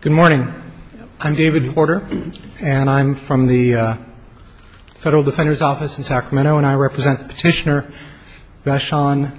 Good morning. I'm David Porter and I'm from the Federal Defender's Office in Sacramento and I represent Petitioner Vashon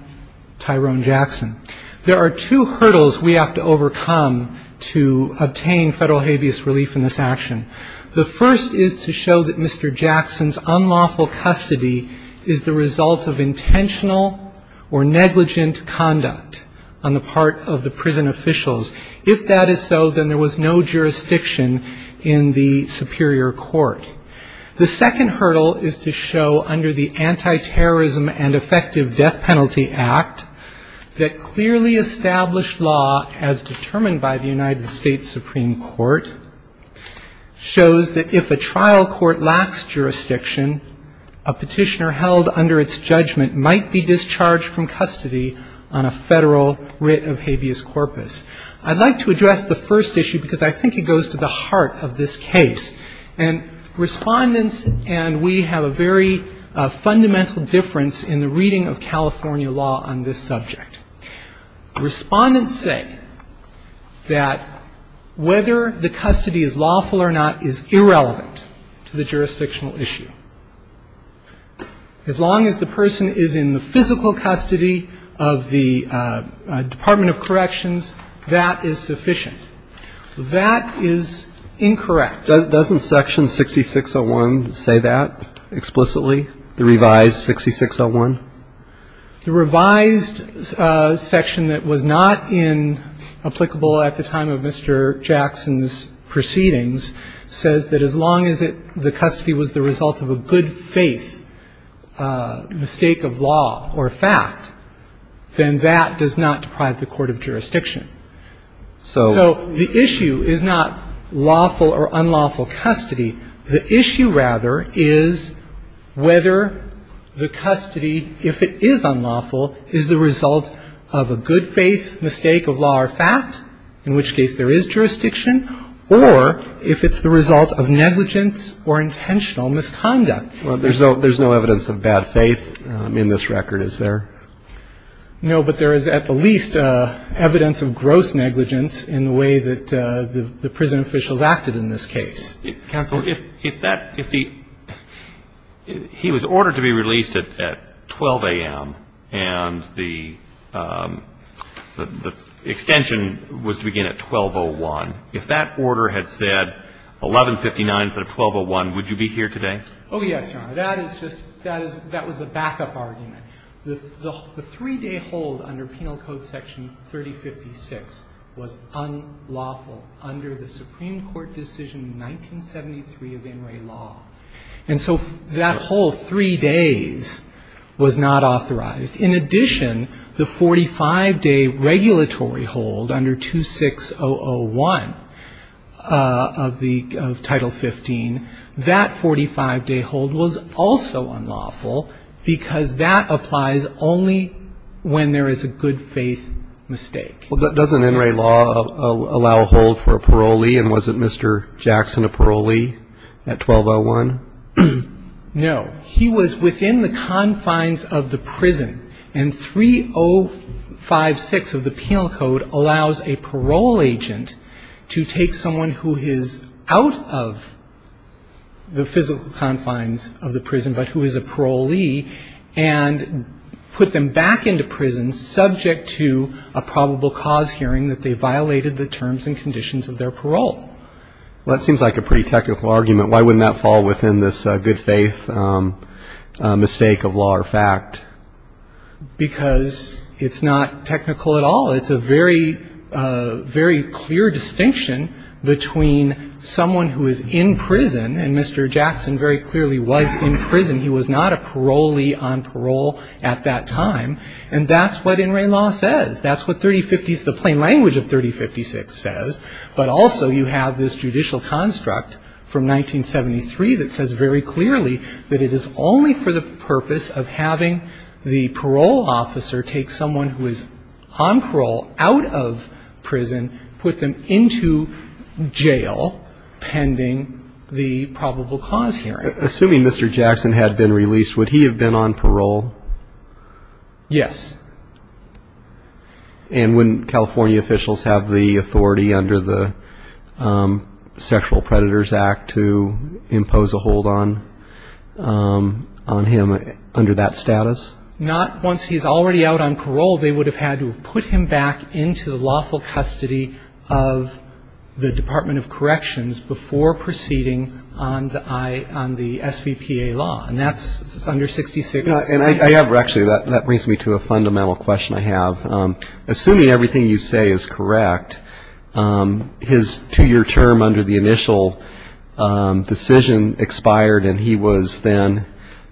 Tyrone Jackson. There are two hurdles we have to overcome to obtain federal habeas relief in this action. The first is to show that Mr. Jackson's unlawful custody is the result of intentional or negligent conduct on the part of the prison officials. If that is so, then there was no jurisdiction in the Superior Court. The second hurdle is to show under the Anti-Terrorism and Effective Death Penalty Act that clearly established law as determined by the United States Supreme Court shows that if a trial court lacks jurisdiction, a petitioner held under its judgment might be discharged from custody on a federal writ of habeas corpus. I'd like to address the first issue because I think it goes to the heart of this case. And Respondents and we have a very fundamental difference in the reading of California law on this subject. Respondents say that whether the custody is lawful or not is irrelevant to the jurisdictional issue. As long as the person is in the physical custody of the Department of Corrections, that is sufficient. That is incorrect. Doesn't section 6601 say that explicitly, the revised 6601? The revised section that was not in applicable at the time of Mr. Jackson's proceedings says that as long as the custody was the result of a good faith mistake of law or fact, then that does not deprive the court of jurisdiction. So the issue is not lawful or unlawful custody. The issue, rather, is whether the custody, if it is unlawful, is the result of a good faith mistake of law or fact, in which case there is jurisdiction, or if it's the result of negligence or intentional misconduct. Well, there's no evidence of bad faith in this record, is there? No, but there is at the least evidence of gross negligence in the way that the prison officials acted in this case. Counsel, if that, if the, he was ordered to be released at 12 a.m. and the extension was to begin at 12.01, if that order had said 1159 instead of 12.01, would you be here today? Oh, yes, Your Honor. That is just, that is, that was the backup argument. The three-day hold under Penal Code section 3056 was unlawful under the Supreme Court decision in 1973 of In re Law. And so that whole three days was not authorized. In addition, the 45-day regulatory hold under 26001 of the, of Title 15, that 45-day hold was also unlawful because that applies only when there is a good faith mistake. Well, doesn't In re Law allow a hold for a parolee? And was it Mr. Jackson, a parolee at 12.01? No. He was within the confines of the prison. And 3056 of the Penal Code allows a parole agent to take someone who is out of the physical confines of the prison but who is a parolee and put them back into prison subject to a probable cause hearing that they violated parole. Well, that seems like a pretty technical argument. Why wouldn't that fall within this good faith mistake of law or fact? Because it's not technical at all. It's a very, very clear distinction between someone who is in prison, and Mr. Jackson very clearly was in prison. He was not a parolee on parole at that time. And that's what In re Law says. That's what 3050s, the plain language of 3056 says. But also you have this judicial construct from 1973 that says very clearly that it is only for the purpose of having the parole officer take someone who is on parole out of prison, put them into jail pending the probable cause hearing. Assuming Mr. Jackson had been released, would he have been on parole? Yes. And wouldn't California officials have the authority under the Sexual Predators Act to impose a hold on him under that status? Not once he's already out on parole. They would have had to put him back into the lawful custody of the Department of Corrections before proceeding on the SVPA law. And that's under 66. And I have actually, that brings me to a fundamental question I have. Assuming everything you say is correct, his two-year term under the initial decision expired and he was then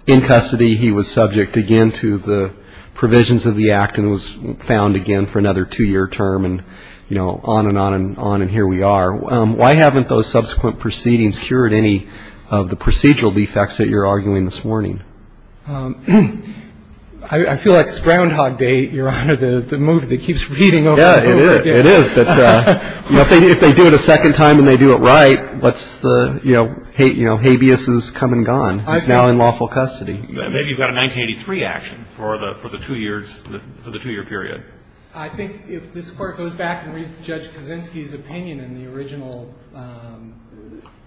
in custody, he was subject again to the provisions of the act and was found again for another two-year term and, you know, on and on and on and here we are. Why haven't those subsequent proceedings cured any of the procedural defects that you're arguing this morning? I feel like it's Groundhog Day, Your Honor, the move that keeps repeating over and over again. Yeah, it is. It is. But, you know, if they do it a second time and they do it right, what's the, you know, habeas is come and gone. It's now in lawful custody. Maybe you've got a 1983 action for the two years, for the two-year period. I think if this Court goes back and reads Judge Kaczynski's opinion in the original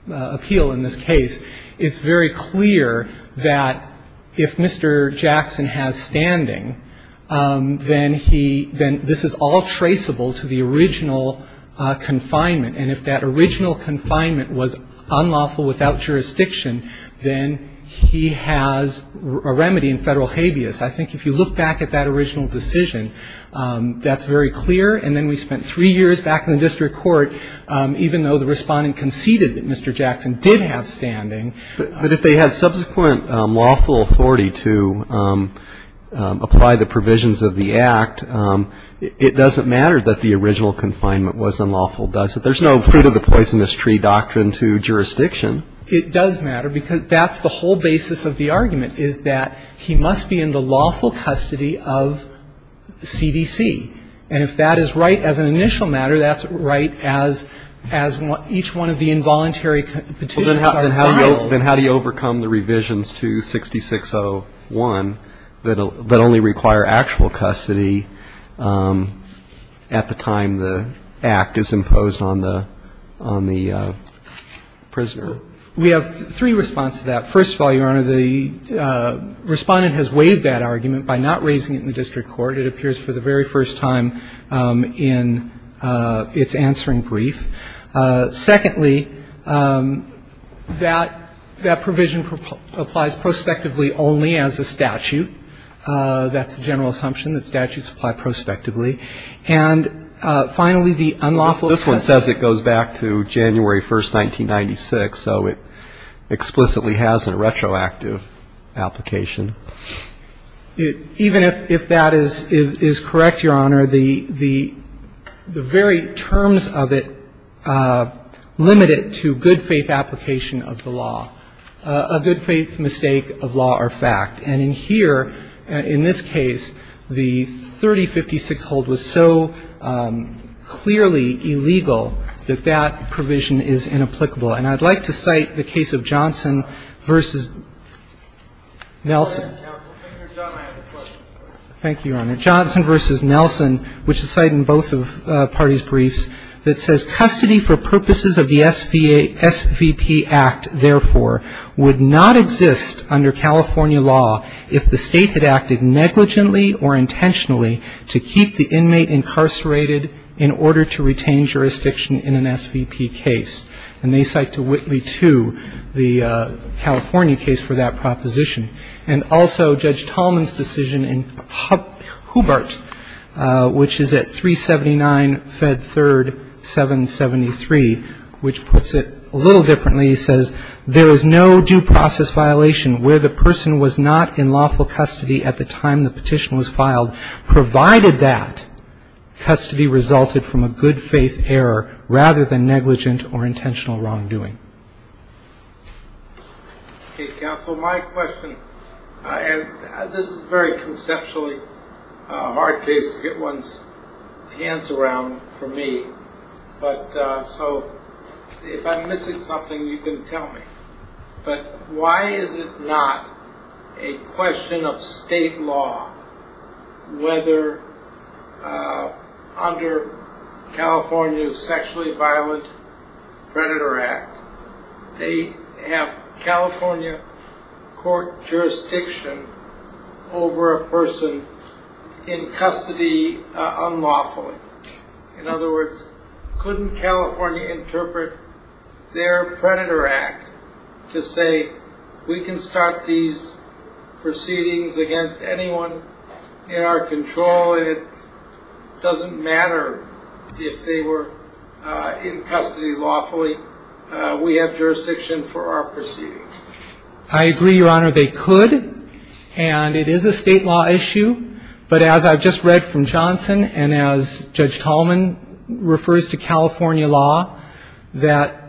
appeal in this case, it's very clear that if Mr. Jackson has standing, then he, then this is all traceable to the original confinement. And if that original confinement was unlawful without jurisdiction, then he has a remedy in federal habeas. I think if you look back at that original decision, that's very clear. And then we spent three years back in the period that Mr. Jackson did have standing. But if they had subsequent lawful authority to apply the provisions of the Act, it doesn't matter that the original confinement was unlawful, does it? There's no fruit-of-the-poisonous-tree doctrine to jurisdiction. It does matter, because that's the whole basis of the argument, is that he must be in the lawful custody of CDC. And if that is right as an initial matter, that's right as each one of the involuntary petitions are filed. But then how do you overcome the revisions to 6601 that only require actual custody at the time the Act is imposed on the prisoner? We have three responses to that. First of all, Your Honor, the Respondent has waived that argument by not raising it in the district court. It appears for the very first time in its answering brief. Secondly, that provision applies prospectively only as a statute. That's the general assumption, that statutes apply prospectively. And finally, the unlawful custody of the prison. This one says it goes back to January 1, 1996, so it explicitly has a retroactive application. Even if that is correct, Your Honor, the very terms of it limit it to good-faith application of the law, a good-faith mistake of law or fact. And in here, in this case, the 3056 hold was so clearly illegal that that provision is inapplicable. And I'd like to cite the case of Johnson v. Nelson. Thank you, Your Honor. Johnson v. Nelson, which is cited in both parties' briefs, that says custody for purposes of the SVP Act, therefore, would not exist under California law if the State had acted negligently or intentionally to keep the inmate incarcerated in order to retain jurisdiction in an SVP case. And they cite Johnson v. Nelson in respect to Whitley II, the California case for that proposition. And also, Judge Tallman's decision in Hubart, which is at 379 Fed 3rd 773, which puts it a little differently. It says, there is no due process violation where the person was not in lawful custody at the time the petition was filed, provided that custody resulted from a good-faith error rather than negligent or intentional wrongdoing. Counsel, my question. And this is very conceptually hard case to get one's hands around for me. But so if I'm missing something, you can tell me. But why is it not a question of state law whether under California's sexually violent predator act, they have California court jurisdiction over a person in custody unlawfully? In other words, couldn't California interpret their predator act to say, we can start these proceedings against anyone in our custody lawfully? We have jurisdiction for our proceedings. I agree, Your Honor, they could. And it is a state law issue. But as I've just read from Johnson and as Judge Tallman refers to California law, that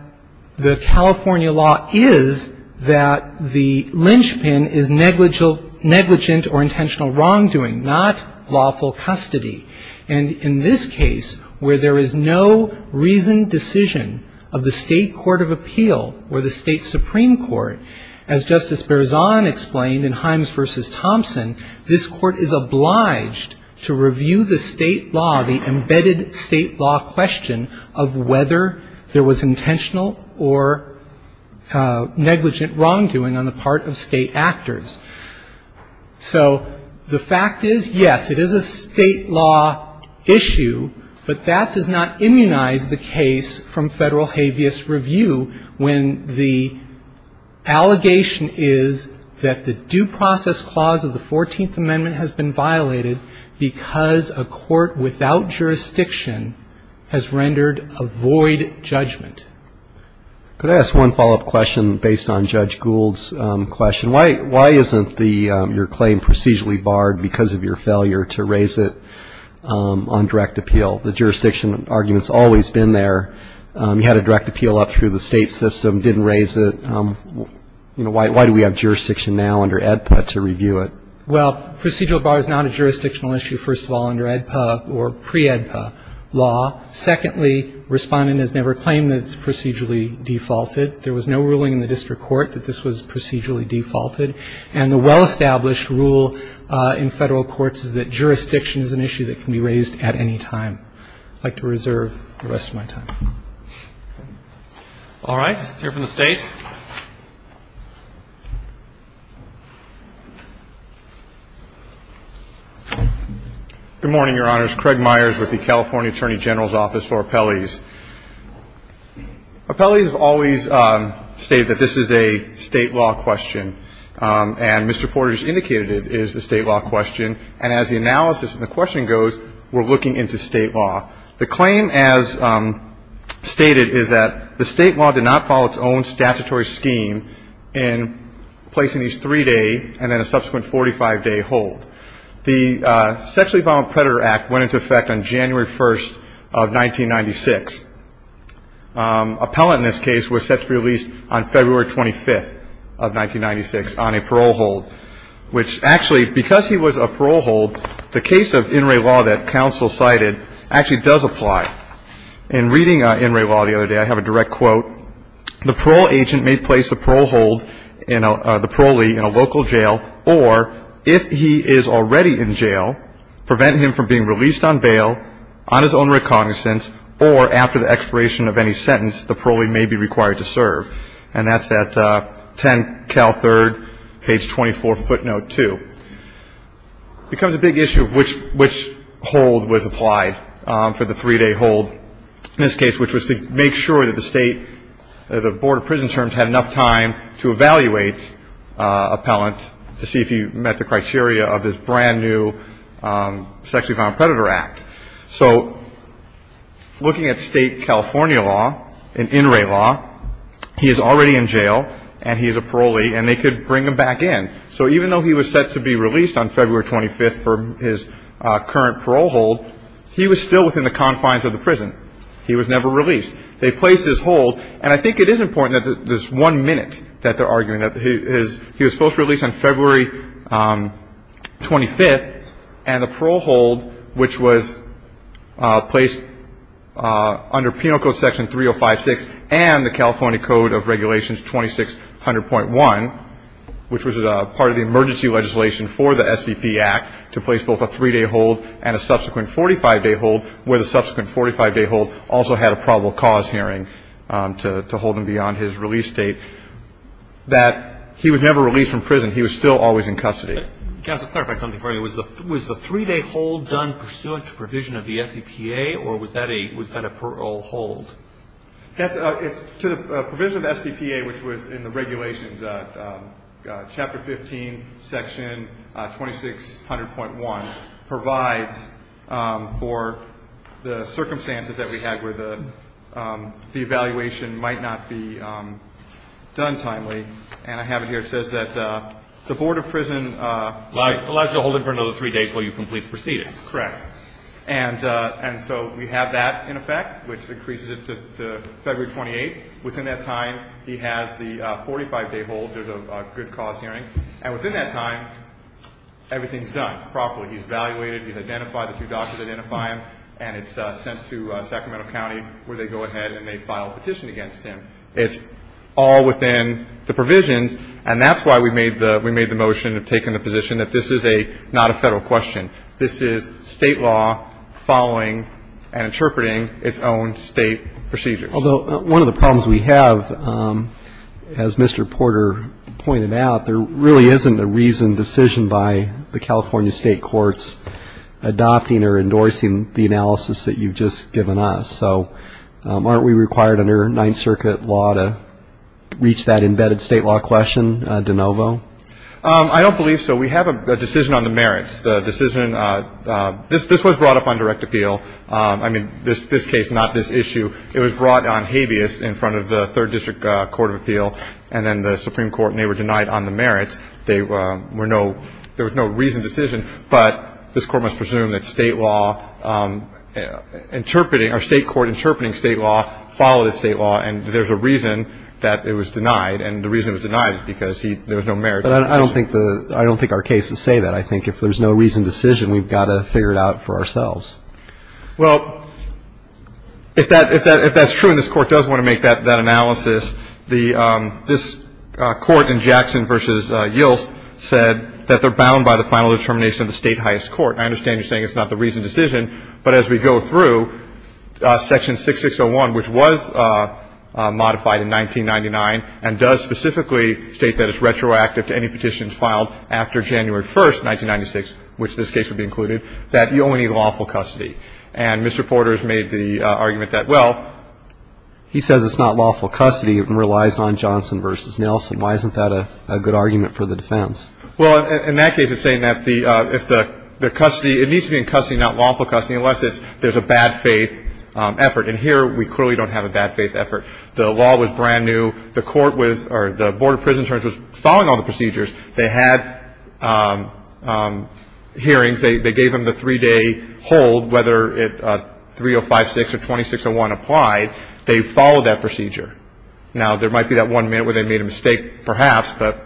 the California law is that the linchpin is negligent or intentional wrongdoing, not lawful custody. And in this case, where there is no reasoned decision of the state court of appeal or the state supreme court, as Justice Berzon explained in Himes v. Thompson, this court is obliged to review the state law, the embedded state law question of whether there was intentional or negligent wrongdoing on the part of state law issue, but that does not immunize the case from federal habeas review when the allegation is that the due process clause of the 14th Amendment has been violated because a court without jurisdiction has rendered a void judgment. Could I ask one follow-up question based on Judge Gould's question? Why isn't your claim procedurally barred because of your failure to raise it on direct appeal? The jurisdiction argument has always been there. You had a direct appeal up through the state system, didn't raise it. Why do we have jurisdiction now under AEDPA to review it? Well, procedural bar is not a jurisdictional issue, first of all, under AEDPA or pre-AEDPA law. Secondly, Respondent has never claimed that it's procedurally defaulted. There was no ruling in the district court that this was procedurally defaulted. And the well-established rule in federal courts is that jurisdiction is an issue that can be raised at any time. I'd like to reserve the rest of my time. All right. Let's hear from the State. Good morning, Your Honors. Craig Myers with the California Attorney General's Office for Appellees. Appellees have always stated that this is a State law question, and Mr. Porter has indicated it is a State law question. And as the analysis and the questioning goes, we're looking into State law. The claim as stated is that the State law did not follow its own statutory scheme in placing these three-day and then a subsequent 45-day hold. The Sexually Violent Predator Act went into effect on January 1st of 1996. Appellant in this case was set to be released on February 25th of 1996 on a parole hold, which actually, because he was a parole hold, the case of in re law that counsel cited actually does apply. In reading in re law the other day, I have a direct quote. The parole agent may place the parole hold, the parolee, in a local jail, or if he is already in jail, prevent him from being released on bail on his own recognizance or after the expiration of any sentence, the parolee may be required to serve. And that's at 10 Cal 3rd, page 24, footnote 2. It becomes a big issue of which hold was applied for the three-day hold in this case, which was to make sure that the State, the Board of Prison Terms had enough time to evaluate appellant to see if he met the criteria of this brand-new Sexually Violent Predator Act. So looking at State California law and in re law, he is already in jail and he is a parole hold. He was still in the confines of the prison. He was never released. They placed his hold, and I think it is important that this one minute that they're arguing, that he was supposed to be released on February 25th, and the parole hold, which was placed under penal code section 3056 and the California code of regulations 2600.1, which was part of the emergency legislation for the SVP Act to place both a three-day hold and a subsequent 45-day hold, where the subsequent 45-day hold also had a probable cause hearing to hold him beyond his release date, that he was never released from prison. He was still always in custody. Justice, clarify something for me. Was the three-day hold done pursuant to provision of the SVPA, or was that a parole hold? To the provision of the SVPA, which was in the regulations, Chapter 15, Section 2600.1 provides for the circumstances that we had where the evaluation might not be done timely, and I have it here. It says that the Board of Prison… Allows you to hold him for another three days while you complete the proceedings. Correct. And so we have that in effect, which increases it to February 28th. Within that time, he has the 45-day hold. There's a good cause hearing. And within that time, everything's done properly. He's evaluated, he's identified, the two doctors identify him, and it's sent to Sacramento County, where they go ahead and they file a petition against him. It's all within the provisions, and that's why we made the motion of taking the position that this is not a Federal question. This is State law following and interpreting its own State procedures. Although one of the problems we have, as Mr. Porter pointed out, there really isn't a reason, decision by the California State courts adopting or endorsing the analysis that you've just given us. So aren't we required under Ninth Circuit law to reach that embedded State law question de novo? I don't believe so. We have a decision on the merits. This was brought up on direct appeal. I mean, this case, not this issue. It was brought on habeas in front of the Third District Court of Appeal and then the Supreme Court, and they were denied on the merits. There was no reason, decision, but this Court must presume that State law interpreting or State court interpreting State law followed State law, and there's a reason that it was denied, and the reason it was denied is because there was no merit. But I don't think our cases say that. I think if there's no reason, decision, we've got to figure it out for ourselves. Well, if that's true and this Court does want to make that analysis, this Court in Jackson v. Yilts said that they're bound by the final determination of the State highest court. I understand you're saying it's not the reason, decision, but as we go through, Section 6601, which was modified in 1999 and does specifically state that it's retroactive to any petitions filed after January 1st, 1996, which this case would be included, that you only need lawful custody. And Mr. Porter has made the argument that, well, he says it's not lawful custody and relies on Johnson v. Nelson. Why isn't that a good argument for the defense? Well, in that case, it's saying that the – if the custody – it needs to be in custody, not lawful custody, unless it's – there's a bad faith effort. And here we clearly don't have a bad faith effort. The law was brand new. The Court was – or the Board of Prisons was following all the procedures. They had hearings. They gave him the three-day hold, whether 3056 or 2601 applied. They followed that procedure. Now, there might be that one minute where they made a mistake, perhaps, but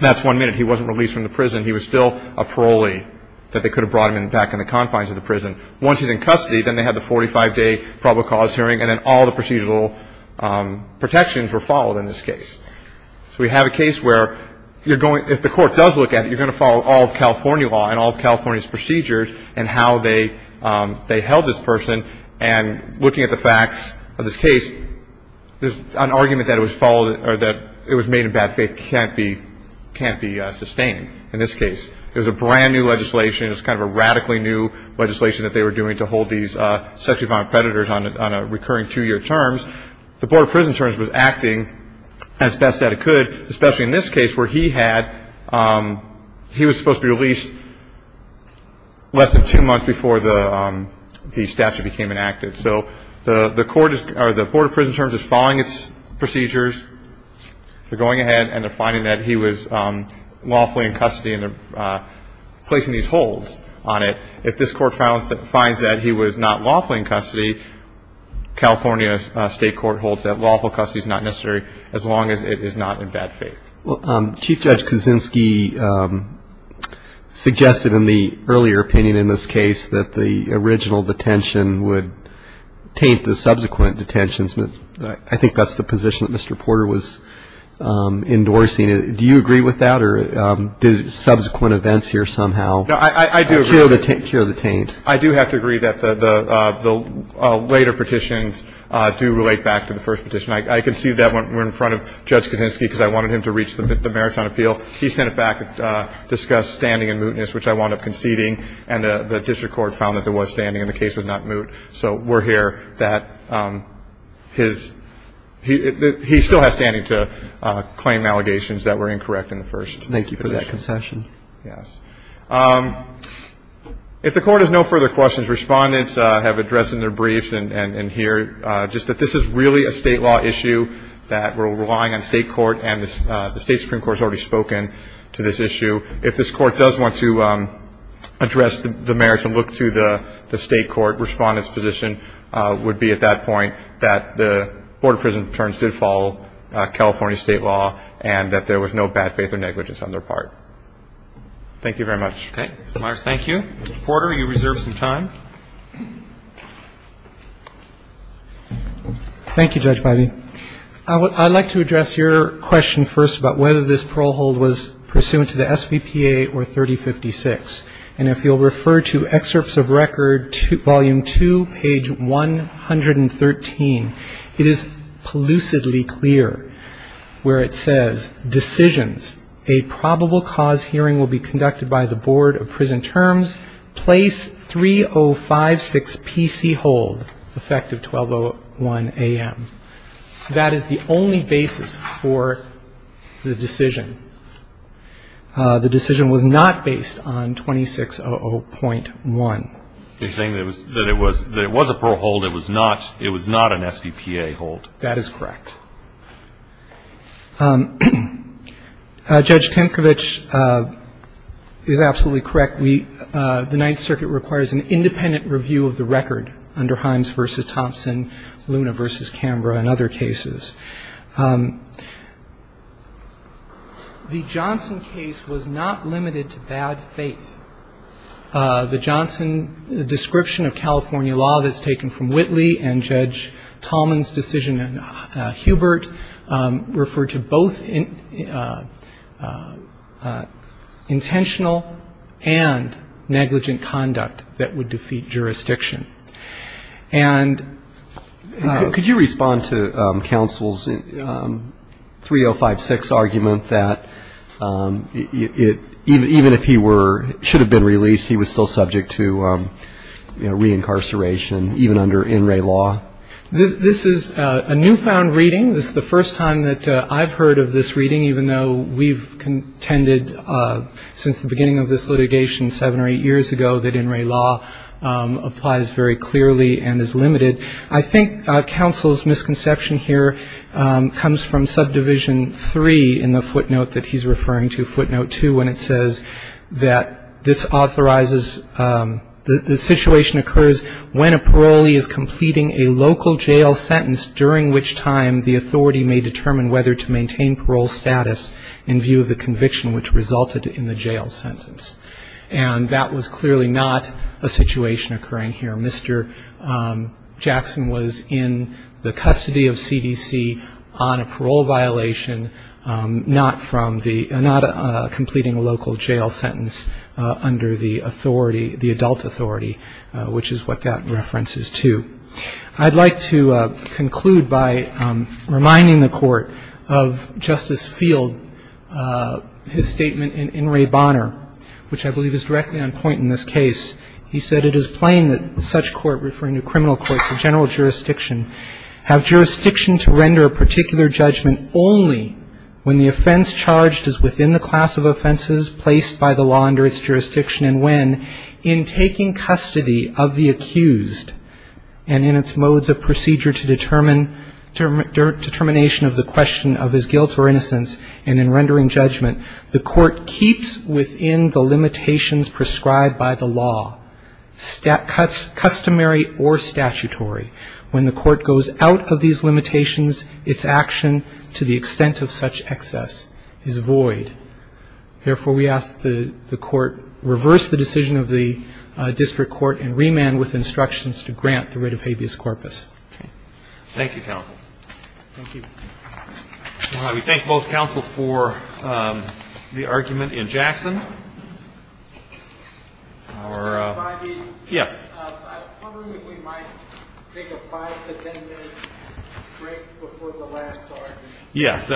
that's one minute. He wasn't released from the prison. He was still a parolee that they could have brought him back in the confines of the prison. Once he's in custody, then they had the 45-day probable cause hearing, and then all the procedural protections were followed in this case. So we have a case where you're going – if the Court does look at it, you're going to follow all of California law and all of California's procedures and how they held this person. And looking at the facts of this case, there's an argument that it was followed or that it was made in bad faith can't be – can't be sustained in this case. It was a brand new legislation. It was kind of a radically new legislation that they were doing to hold these sexually violent predators on a recurring two-year terms. The Board of Prison Terms was acting as best that it could, especially in this case where he had – he was supposed to be released less than two months before the statute became enacted. So the Court is – or the Board of Prison Terms is following its procedures. They're going ahead and they're finding that he was lawfully in custody and they're placing these holds on it. If this Court finds that he was not lawfully in custody, California State Court holds that lawful custody is not necessary as long as it is not in bad faith. Well, Chief Judge Kuczynski suggested in the earlier opinion in this case that the original detention would taint the subsequent detentions. I think that's the position that Mr. Porter was endorsing. Do you agree with that or did subsequent events here somehow – No, I do agree. Cure the taint. I do have to agree that the later petitions do relate back to the first petition. I conceded that one in front of Judge Kuczynski because I wanted him to reach the merits on appeal. He sent it back, discussed standing and mootness, which I wound up conceding, and the district court found that there was standing and the case was not moot. So we're here that his – he still has standing to claim allegations that were incorrect in the first petition. Thank you for that concession. Yes. If the Court has no further questions, Respondents have addressed in their briefs and here just that this is really a state law issue that we're relying on state court and the State Supreme Court has already spoken to this issue. If this Court does want to address the merits and look to the state court, Respondents' position would be at that point that the Board of Prison Determinants did follow California state law and that there was no bad faith or negligence on their part. Thank you very much. Okay. Mr. Myers, thank you. Mr. Porter, you reserve some time. Thank you, Judge Biby. I'd like to address your question first about whether this parole hold was pursuant to the SBPA or 3056. And if you'll refer to excerpts of record volume 2, page 113, it is elucidly clear where it says decisions, a probable cause hearing will be conducted by the Board of Prison Terms. Place 3056 PC hold, effective 1201 a.m. So that is the only basis for the decision. The decision was not based on 2600.1. You're saying that it was a parole hold, it was not an SBPA hold. That is correct. Judge Tinkovich is absolutely correct. The Ninth Circuit requires an independent review of the record under Himes v. Thompson, Luna v. Canberra, and other cases. The Johnson case was not limited to bad faith. The Johnson description of California law that's taken from Whitley and Judge Tallman's decision in Hubert refer to both intentional and negligent conduct that would defeat jurisdiction. And ---- Could you respond to counsel's 3056 argument that it, even if he were, should have been released, he was still subject to, you know, reincarceration, even under In Re Law? This is a newfound reading. This is the first time that I've heard of this reading, even though we've contended since the beginning of this litigation seven or eight years ago that In Re Law applies very clearly and is limited. I think counsel's misconception here comes from subdivision 3 in the footnote that he's referring to, footnote 2, when it says that this authorizes, the situation occurs when a parolee is completing a local jail sentence, during which time the authority may determine whether to maintain parole status in view of the conviction, which resulted in the jail sentence. And that was clearly not a situation occurring here. Mr. Jackson was in the custody of CDC on a parole violation, not from the ---- not completing a local jail sentence under the authority, the adult authority, which is what that references to. I'd like to conclude by reminding the Court of Justice Field, his statement in In Re Bonner, which I believe is directly on point in this case. He said, It is plain that such court, referring to criminal courts and general jurisdiction, have jurisdiction to render a particular judgment only when the offense charged is within the class of offenses placed by the law under its jurisdiction, and when, in taking custody of the accused, and in its modes of procedure to determination of the question of his guilt or innocence, and in rendering judgment, the court keeps within the limitations prescribed by the law, customary or statutory. When the court goes out of these limitations, its action to the extent of such excess is void. Therefore, we ask that the court reverse the decision of the district court and remand with instructions to grant the writ of habeas corpus. Okay. Thank you, counsel. Thank you. We thank both counsel for the argument in Jackson. Yes. I was wondering if we might take a five to ten minute break before the last argument. Yes.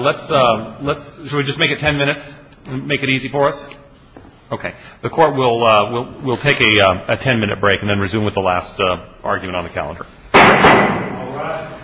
Let's just make it ten minutes and make it easy for us. Okay. The court will take a ten minute break and then resume with the last argument on the calendar. All rise.